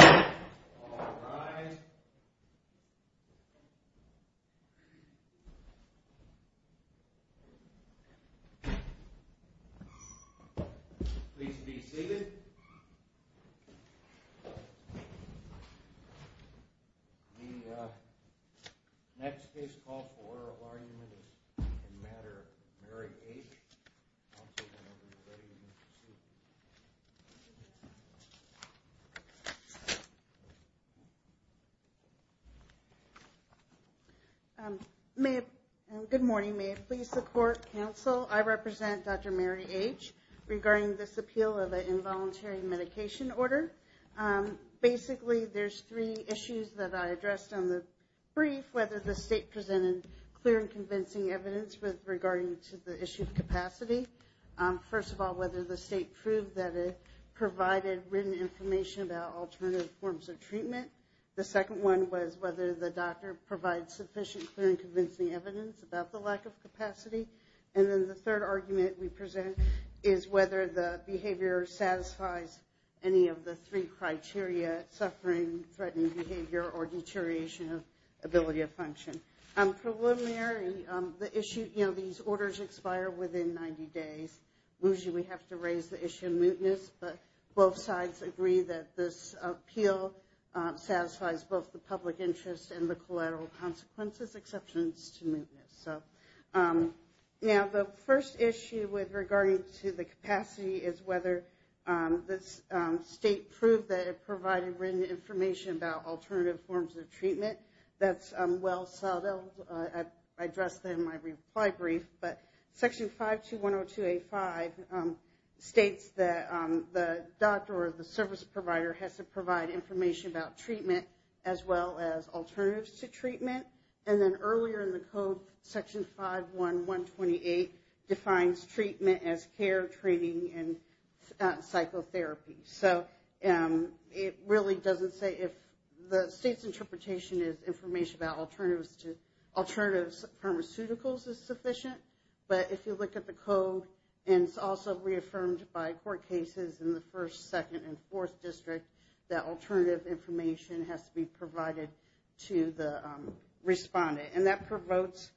All rise. Please be seated. The next case call for order of argument is in the matter of Mary H. Good morning. May please support counsel. I represent Dr. Mary H. Regarding this appeal of the involuntary medication order. Basically, there's three issues that I addressed on the brief, whether the state presented clear and convincing evidence with regard to the issue of capacity. First of all, whether the state proved that it provided written information about alternative forms of treatment. The second one was whether the doctor provided sufficient clear and convincing evidence about the lack of capacity. And then the third argument we present is whether the behavior satisfies any of the three criteria, suffering, threatening behavior, or deterioration of ability of function. Preliminary, the issue, you know, these orders expire within 90 days. Usually we have to raise the issue of mootness, but both sides agree that this appeal satisfies both the public interest and the collateral consequences, exceptions to mootness. So now the first issue with regarding to the capacity is whether the state proved that it provided written information about alternative forms of treatment. That's well settled. I addressed that in my reply brief, but Section 52102A5 states that the doctor or the service provider has to provide information about treatment as well as alternatives to treatment. And then earlier in the code, Section 51128 defines treatment as care, training, and psychotherapy. So it really doesn't say if the state's interpretation is information about alternatives to alternatives, pharmaceuticals is sufficient. But if you look at the code, and it's also reaffirmed by court cases in the first, second, and fourth district, that alternative information has to be provided to the respondent. And that provokes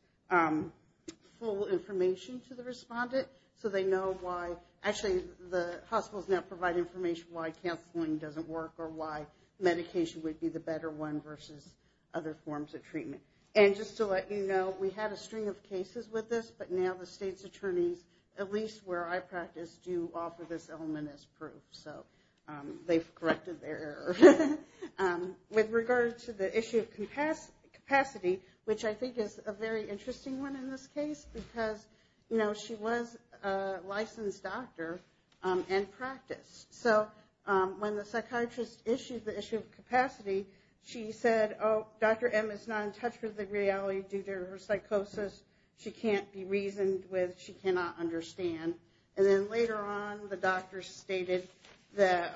full information to the respondent so they know why actually the hospitals now provide information why counseling doesn't work or why medication would be the better one versus other forms of treatment. And just to let you know, we had a string of cases with this, but now the state's attorneys, at least where I practice, do offer this element as proof. So they've corrected their error. With regard to the issue of capacity, which I think is a very interesting one in this case because, you know, she was a licensed doctor and practiced. So when the psychiatrist issued the issue of capacity, she said, oh, Dr. M is not in touch with the reality due to her psychosis. She can't be reasoned with. She cannot understand. And then later on, the doctor stated that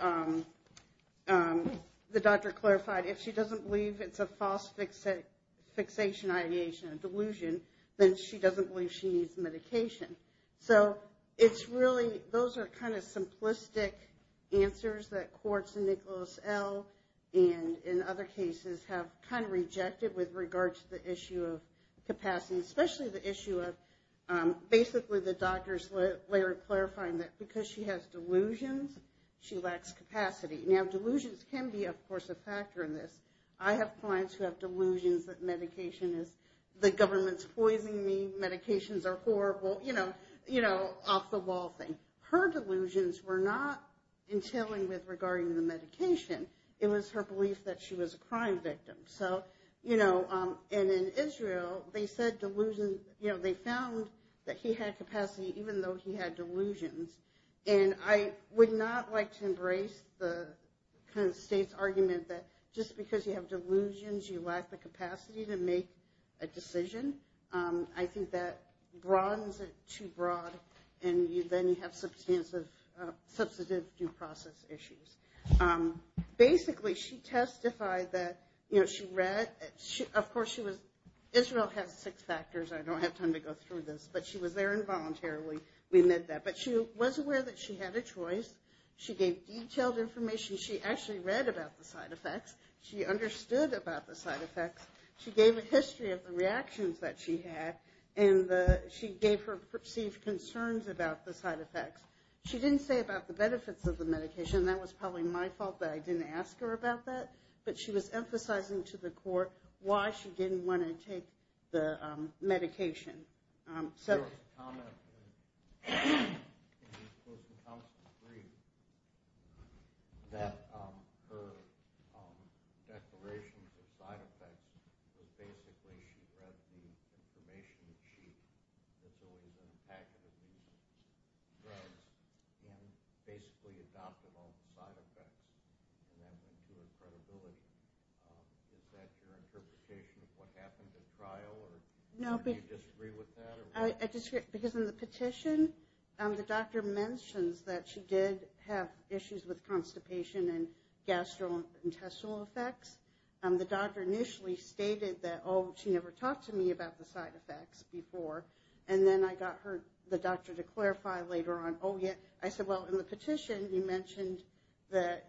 the doctor clarified if she doesn't believe it's a false fixation ideation, a delusion, then she doesn't believe she needs medication. So it's really those are kind of simplistic answers that courts in Nicholas L and in other cases have kind of rejected with regard to the issue of capacity, especially the issue of basically the doctor's later clarifying that because she has delusions, she lacks capacity. Now, delusions can be, of course, a factor in this. I have clients who have delusions that medication is the government's poisoning me, medications are horrible, you know, off the wall thing. Her delusions were not in telling with regarding the medication. It was her belief that she was a crime victim. So, you know, and in Israel, they said delusions, you know, they found that he had capacity even though he had delusions. And I would not like to embrace the kind of state's argument that just because you have delusions, you lack the capacity to make a decision. I think that broadens it too broad and then you have substantive due process issues. Basically, she testified that, you know, she read. Of course, she was – Israel has six factors. I don't have time to go through this. But she was there involuntarily. We met that. But she was aware that she had a choice. She gave detailed information. She actually read about the side effects. She understood about the side effects. She gave a history of the reactions that she had. And she gave her perceived concerns about the side effects. She didn't say about the benefits of the medication. That was probably my fault that I didn't ask her about that. But she was emphasizing to the court why she didn't want to take the medication. So the comment was that her declaration of side effects was basically she read the information that she had been actively drugged and basically adopted all the side effects and that was her credibility. Is that your interpretation of what happened in trial? Do you disagree with that? Because in the petition, the doctor mentions that she did have issues with constipation and gastrointestinal effects. The doctor initially stated that, oh, she never talked to me about the side effects before. And then I got the doctor to clarify later on. I said, well, in the petition, you mentioned that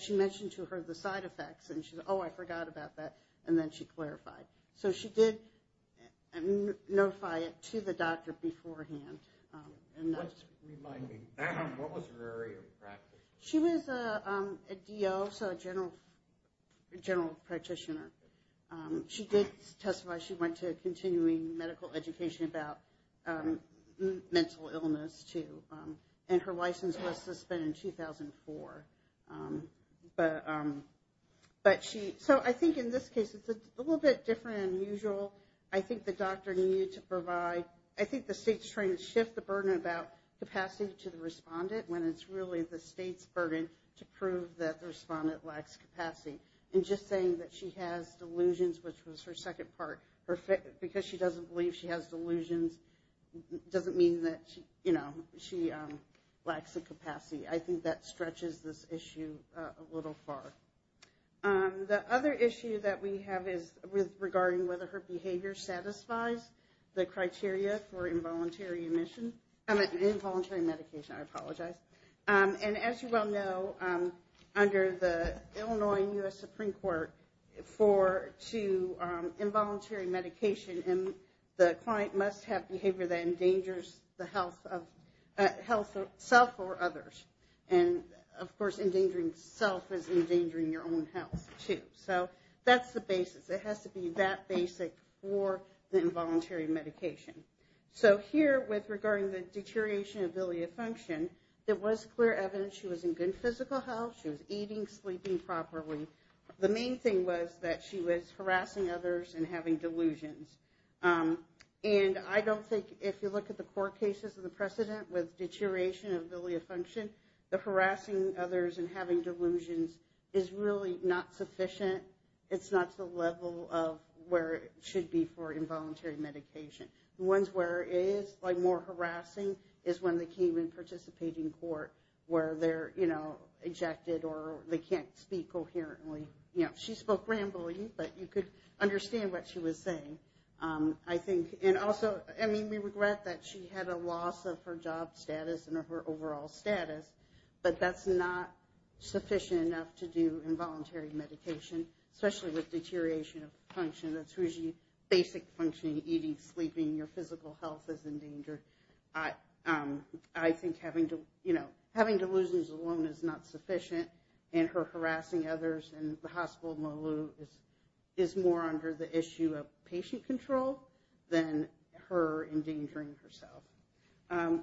she mentioned to her the side effects. And she said, oh, I forgot about that. And then she clarified. So she did notify it to the doctor beforehand. Remind me, what was her area of practice? She was a DO, so a general practitioner. She did testify she went to continuing medical education about mental illness, too. And her license was suspended in 2004. So I think in this case, it's a little bit different than usual. I think the doctor needed to provide – I think the state's trying to shift the burden about capacity to the respondent when it's really the state's burden to prove that the respondent lacks capacity. And just saying that she has delusions, which was her second part, because she doesn't believe she has delusions doesn't mean that she lacks the capacity. I think that stretches this issue a little far. The other issue that we have is regarding whether her behavior satisfies the criteria for involuntary medication. I apologize. And as you well know, under the Illinois and U.S. Supreme Court, for involuntary medication, the client must have behavior that endangers the health of – health of self or others. And, of course, endangering self is endangering your own health, too. So that's the basis. It has to be that basic for the involuntary medication. So here, with – regarding the deterioration of bilia function, there was clear evidence she was in good physical health. She was eating, sleeping properly. The main thing was that she was harassing others and having delusions. And I don't think – if you look at the court cases and the precedent with deterioration of bilia function, the harassing others and having delusions is really not sufficient. It's not to the level of where it should be for involuntary medication. The ones where it is, like, more harassing is when they came and participate in court where they're, you know, ejected or they can't speak coherently. You know, she spoke rambly, but you could understand what she was saying, I think. And also, I mean, we regret that she had a loss of her job status and her overall status, but that's not sufficient enough to do involuntary medication, especially with deterioration of function. That's usually basic functioning, eating, sleeping. Your physical health is endangered. I think having delusions alone is not sufficient, and her harassing others in the hospital, Malou, is more under the issue of patient control than her endangering herself.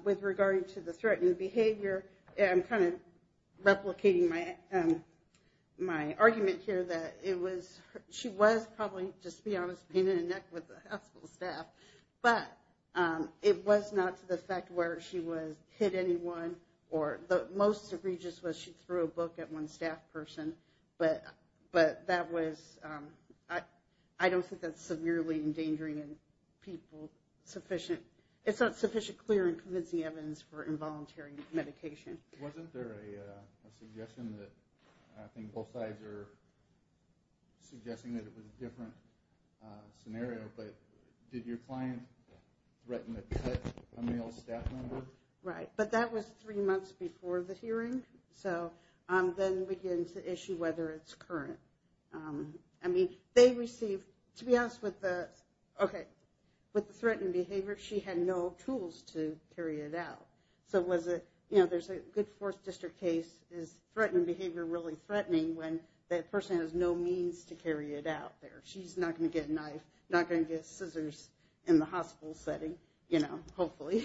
With regarding to the threatened behavior, I'm kind of replicating my argument here that it was, she was probably, just to be honest, pain in the neck with the hospital staff, but it was not to the effect where she would hit anyone or the most egregious was she threw a book at one staff person, but that was, I don't think that's severely endangering people sufficient. It's not sufficient clear and convincing evidence for involuntary medication. Wasn't there a suggestion that, I think both sides are suggesting that it was a different scenario, but did your client threaten to cut a male staff member? Right, but that was three months before the hearing, so then begins the issue whether it's current. I mean, they received, to be honest with the, okay, with the threatened behavior, she had no tools to carry it out. So was it, you know, there's a good fourth district case, is threatened behavior really threatening when that person has no means to carry it out there? She's not going to get a knife, not going to get scissors in the hospital setting, you know, hopefully.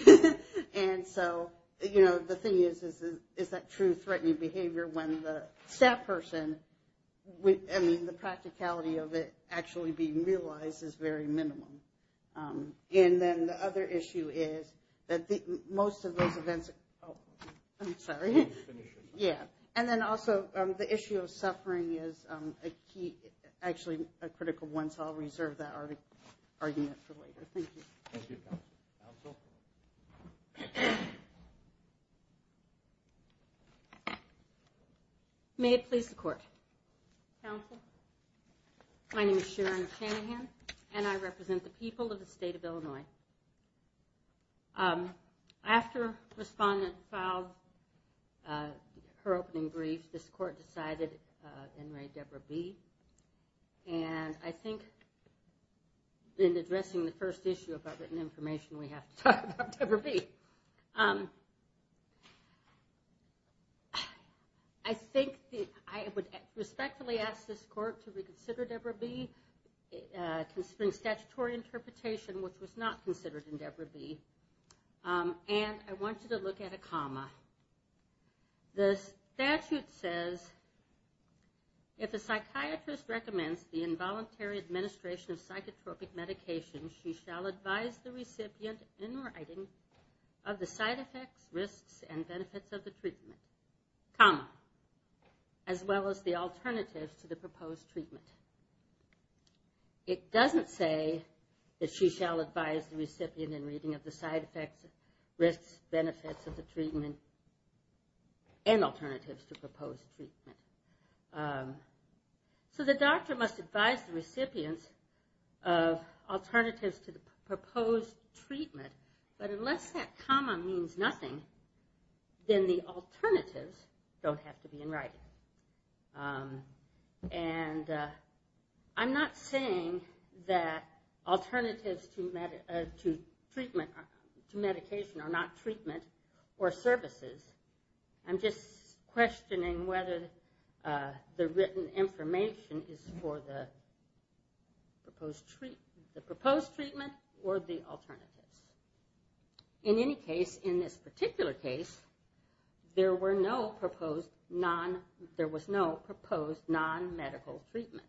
And so, you know, the thing is, is that true threatening behavior when the staff person, I mean, the practicality of it actually being realized is very minimum. And then the other issue is that most of those events, oh, I'm sorry. Yeah, and then also the issue of suffering is a key, actually a critical one, so I'll reserve that argument for later. Thank you. Thank you, Counsel. Counsel? May it please the Court. Counsel, my name is Sharon Shanahan, and I represent the people of the state of Illinois. After Respondent filed her opening brief, this Court decided in Ray Deborah Bee, and I think in addressing the first issue about written information, we have to talk about Deborah Bee. I think that I would respectfully ask this Court to reconsider Deborah Bee, considering statutory interpretation, which was not considered in Deborah Bee, and I want you to look at a comma. The statute says, if a psychiatrist recommends the involuntary administration of psychotropic medication, she shall advise the recipient in writing of the side effects, risks, and benefits of the treatment, comma, as well as the alternatives to the proposed treatment. It doesn't say that she shall advise the recipient in reading of the side effects, risks, benefits of the treatment, and alternatives to proposed treatment. So the doctor must advise the recipient of alternatives to the proposed treatment, but unless that comma means nothing, then the alternatives don't have to be in writing. And I'm not saying that alternatives to medication are not treatment or services. I'm just questioning whether the written information is for the proposed treatment or the alternatives. In any case, in this particular case, there was no proposed non-medical treatment.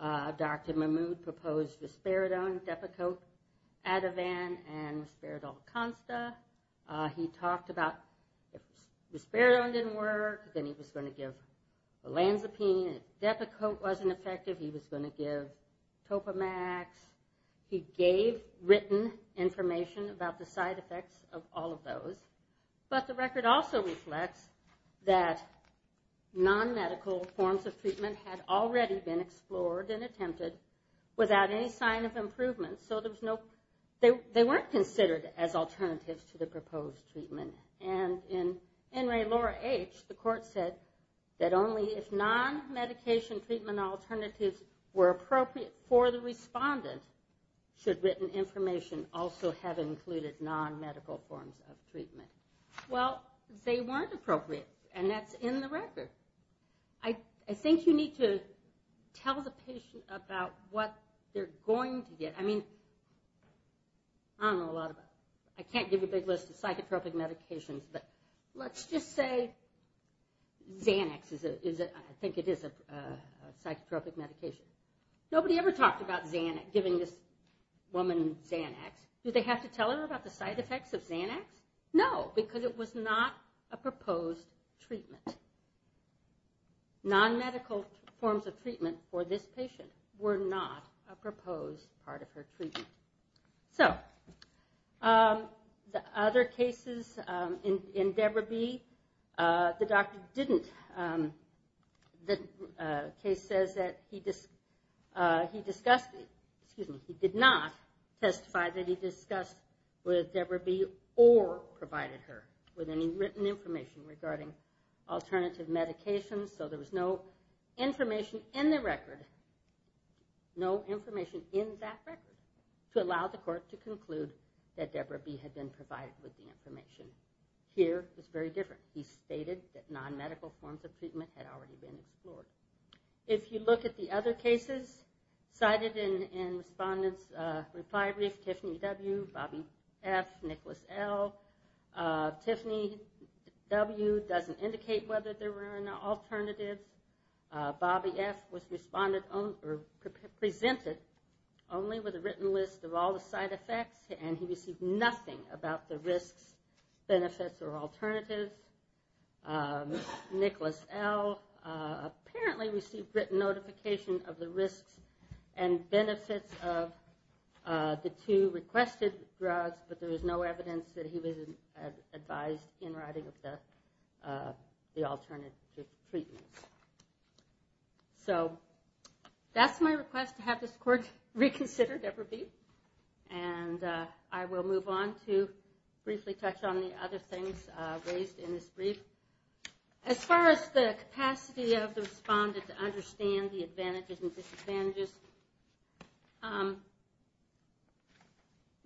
Dr. Mahmood proposed Risperidone, Depakote, Ativan, and Risperidol-Consta. He talked about if Risperidone didn't work, then he was going to give Olanzapine. If Depakote wasn't effective, he was going to give Topamax. He gave written information about the side effects of all of those. But the record also reflects that non-medical forms of treatment had already been explored and attempted without any sign of improvement. So they weren't considered as alternatives to the proposed treatment. And in N. Ray, Laura H., the court said that only if non-medication treatment alternatives were appropriate for the respondent should written information also have included non-medical forms of treatment. Well, they weren't appropriate, and that's in the record. I think you need to tell the patient about what they're going to get. I mean, I don't know a lot about it. I can't give a big list of psychotropic medications, but let's just say Xanax. I think it is a psychotropic medication. Nobody ever talked about giving this woman Xanax. Did they have to tell her about the side effects of Xanax? No, because it was not a proposed treatment. Non-medical forms of treatment for this patient were not a proposed part of her treatment. So the other cases in Deborah B., the doctor didn't. The case says that he did not testify that he discussed with Deborah B. or provided her with any written information regarding alternative medications. So there was no information in the record, no information in that record, to allow the court to conclude that Deborah B. had been provided with the information. Here, it's very different. He stated that non-medical forms of treatment had already been explored. If you look at the other cases cited in respondents' reply brief, Tiffany W., Bobby F., Nicholas L., Tiffany W. doesn't indicate whether there were any alternatives. Bobby F. was presented only with a written list of all the side effects, and he received nothing about the risks, benefits, or alternatives. Nicholas L. apparently received written notification of the risks and benefits of the two requested drugs, but there was no evidence that he was advised in writing of the alternative treatments. So that's my request to have this court reconsider Deborah B. and I will move on to briefly touch on the other things raised in this brief. As far as the capacity of the respondent to understand the advantages and disadvantages, the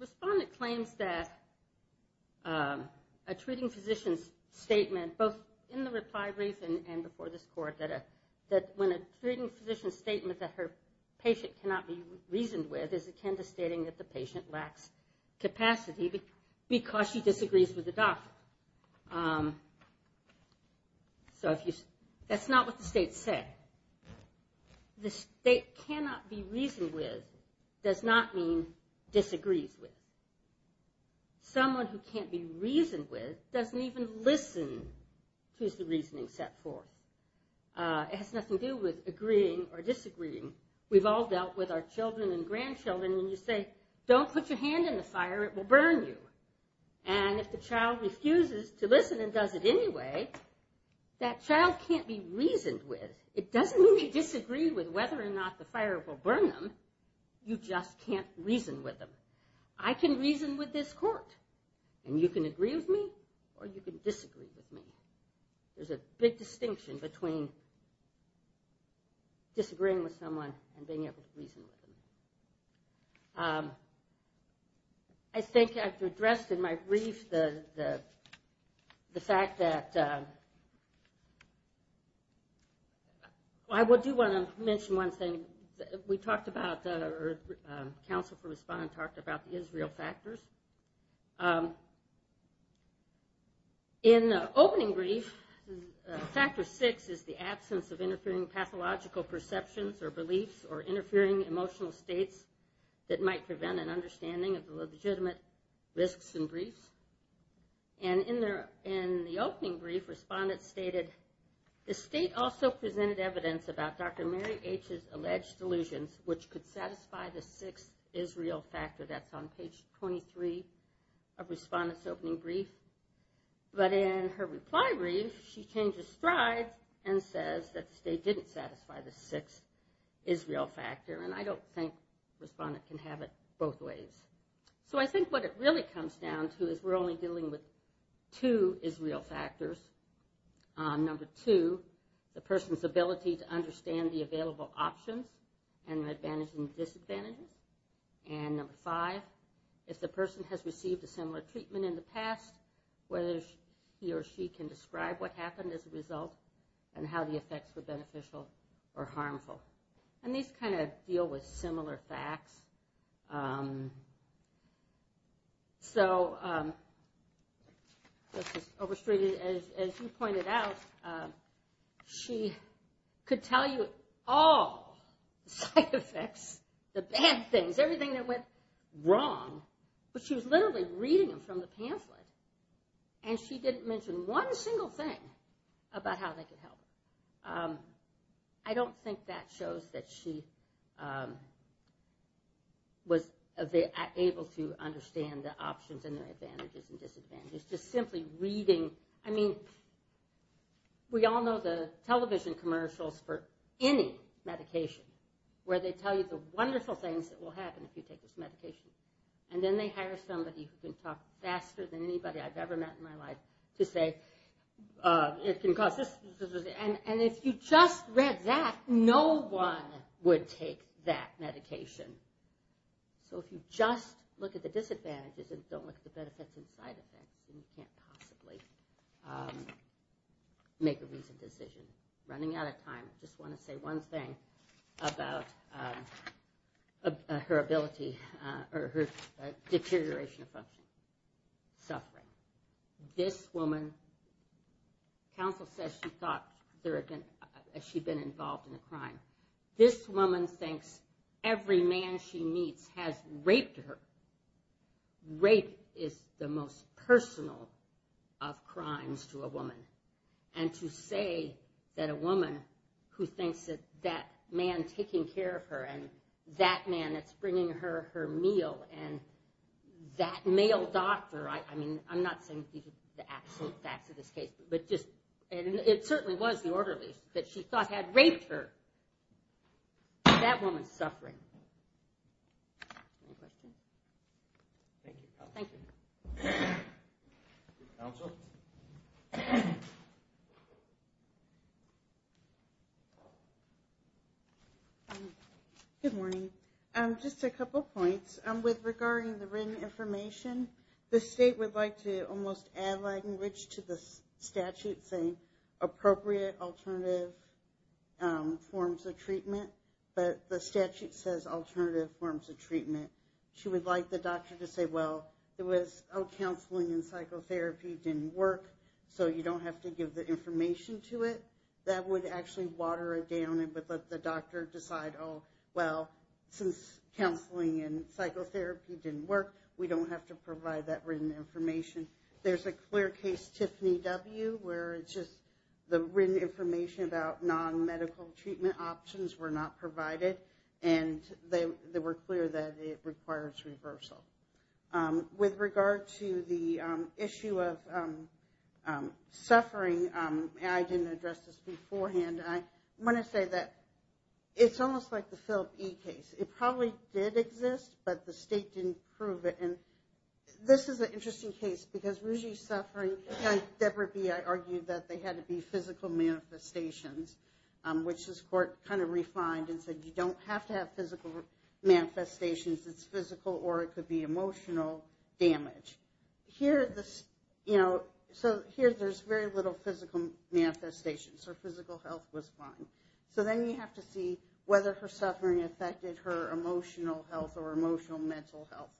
respondent claims that a treating physician's statement, both in the reply brief and before this court, that when a treating physician's statement that her patient cannot be reasoned with is akin to stating that the patient lacks capacity because she disagrees with the doctor. That's not what the state said. The state cannot be reasoned with does not mean disagrees with. Someone who can't be reasoned with doesn't even listen to the reasoning set forth. It has nothing to do with agreeing or disagreeing. We've all dealt with our children and grandchildren and you say, don't put your hand in the fire, it will burn you. And if the child refuses to listen and does it anyway, that child can't be reasoned with. It doesn't mean they disagree with whether or not the fire will burn them, you just can't reason with them. I can reason with this court and you can agree with me or you can disagree with me. There's a big distinction between disagreeing with someone and being able to reason with them. I think I've addressed in my brief the fact that I do want to mention one thing. Council for Respondent talked about the Israel factors. In the opening brief, factor six is the absence of interfering pathological perceptions or beliefs or interfering emotional states that might prevent an understanding of the legitimate risks in briefs. And in the opening brief, respondents stated, the state also presented evidence about Dr. Mary H's alleged delusions, which could satisfy the sixth Israel factor. That's on page 23 of Respondent's opening brief. But in her reply brief, she changes strides and says that the state didn't satisfy the sixth Israel factor. And I don't think Respondent can have it both ways. So I think what it really comes down to is we're only dealing with two Israel factors. Number two, the person's ability to understand the available options and the advantages and disadvantages. And number five, if the person has received a similar treatment in the past, whether he or she can describe what happened as a result and how the effects were beneficial or harmful. And these kind of deal with similar facts. So this is overstated. As you pointed out, she could tell you all the side effects, the bad things, everything that went wrong. But she was literally reading them from the pamphlet. And she didn't mention one single thing about how they could help. I don't think that shows that she was able to understand the options and the advantages and disadvantages. Just simply reading. I mean, we all know the television commercials for any medication, where they tell you the wonderful things that will happen if you take this medication. And then they hire somebody who can talk faster than anybody I've ever met in my life to say, it can cause this. And if you just read that, no one would take that medication. So if you just look at the disadvantages and don't look at the benefits and side effects, then you can't possibly make a reasoned decision. Running out of time, I just want to say one thing about her ability or her deterioration of function. Suffering. This woman, counsel says she thought she'd been involved in a crime. This woman thinks every man she meets has raped her. Rape is the most personal of crimes to a woman. And to say that a woman who thinks that that man taking care of her, and that male doctor, I mean, I'm not saying these are the absolute facts of this case, but just, and it certainly was the orderlies, that she thought had raped her. That woman's suffering. Any questions? Thank you. Thank you. Counsel? Good morning. Just a couple points. With regarding the written information, the state would like to almost add language to the statute saying appropriate alternative forms of treatment. But the statute says alternative forms of treatment. She would like the doctor to say, well, it was counseling and psychotherapy didn't work, so you don't have to give the information to it. That would actually water it down and would let the doctor decide, oh, well, since counseling and psychotherapy didn't work, we don't have to provide that written information. There's a clear case, Tiffany W., where it's just the written information about non-medical treatment options were not provided, and they were clear that it requires reversal. With regard to the issue of suffering, and I didn't address this beforehand, and I want to say that it's almost like the Philip E. case. It probably did exist, but the state didn't prove it. And this is an interesting case because Rouge's suffering, and Deborah B., I argued that they had to be physical manifestations, which this court kind of refined and said you don't have to have physical manifestations. It's physical or it could be emotional damage. So here there's very little physical manifestations. Her physical health was fine. So then you have to see whether her suffering affected her emotional health or emotional mental health.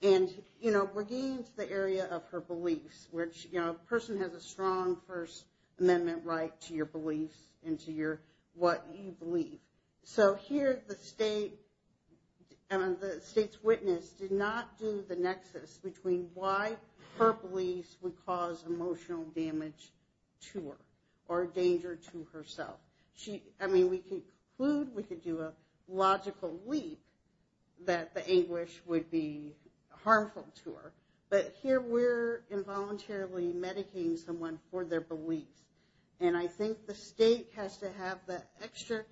And we're getting into the area of her beliefs, which a person has a strong First Amendment right to your beliefs and to what you believe. So here the state's witness did not do the nexus between why her beliefs would cause emotional damage to her or danger to herself. I mean we could conclude, we could do a logical leap that the anguish would be harmful to her, but here we're involuntarily medicating someone for their beliefs. And I think the state has to have that extra,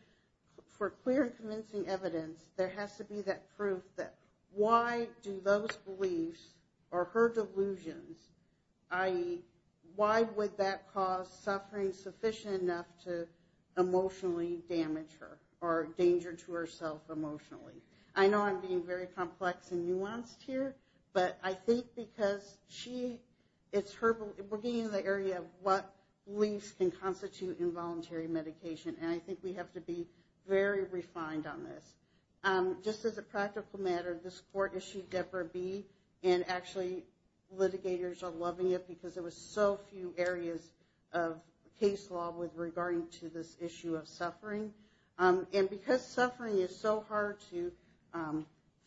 for clear and convincing evidence, there has to be that proof that why do those beliefs or her delusions, i.e., why would that cause suffering sufficient enough to emotionally damage her or danger to herself emotionally. I know I'm being very complex and nuanced here, but I think because we're getting into the area of what beliefs can constitute involuntary medication, and I think we have to be very refined on this. Just as a practical matter, this court issued Debra B., and actually litigators are loving it because there were so few areas of case law with regard to this issue of suffering. And because suffering is so hard to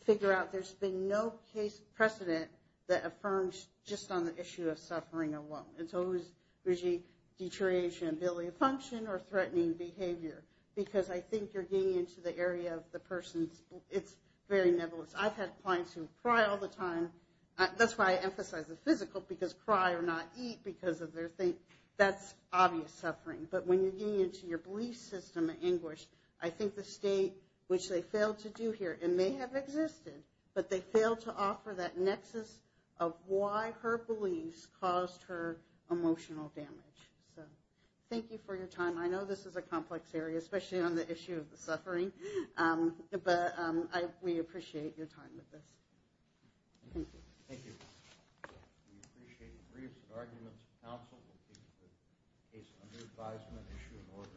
figure out, there's been no case precedent that affirms just on the issue of suffering alone. And so it was usually deterioration of ability to function or threatening behavior, because I think you're getting into the area of the person's, it's very nebulous. I've had clients who cry all the time, that's why I emphasize the physical, because cry or not eat because of their thing, that's obvious suffering. But when you're getting into your belief system at English, I think the state, which they failed to do here, and may have existed, but they failed to offer that nexus of why her beliefs caused her emotional damage. So thank you for your time. I know this is a complex area, especially on the issue of the suffering, but we appreciate your time with this. Thank you. Thank you. We appreciate your briefs and arguments. Counsel will take the case under advisement, issue an order, and close. Thank you.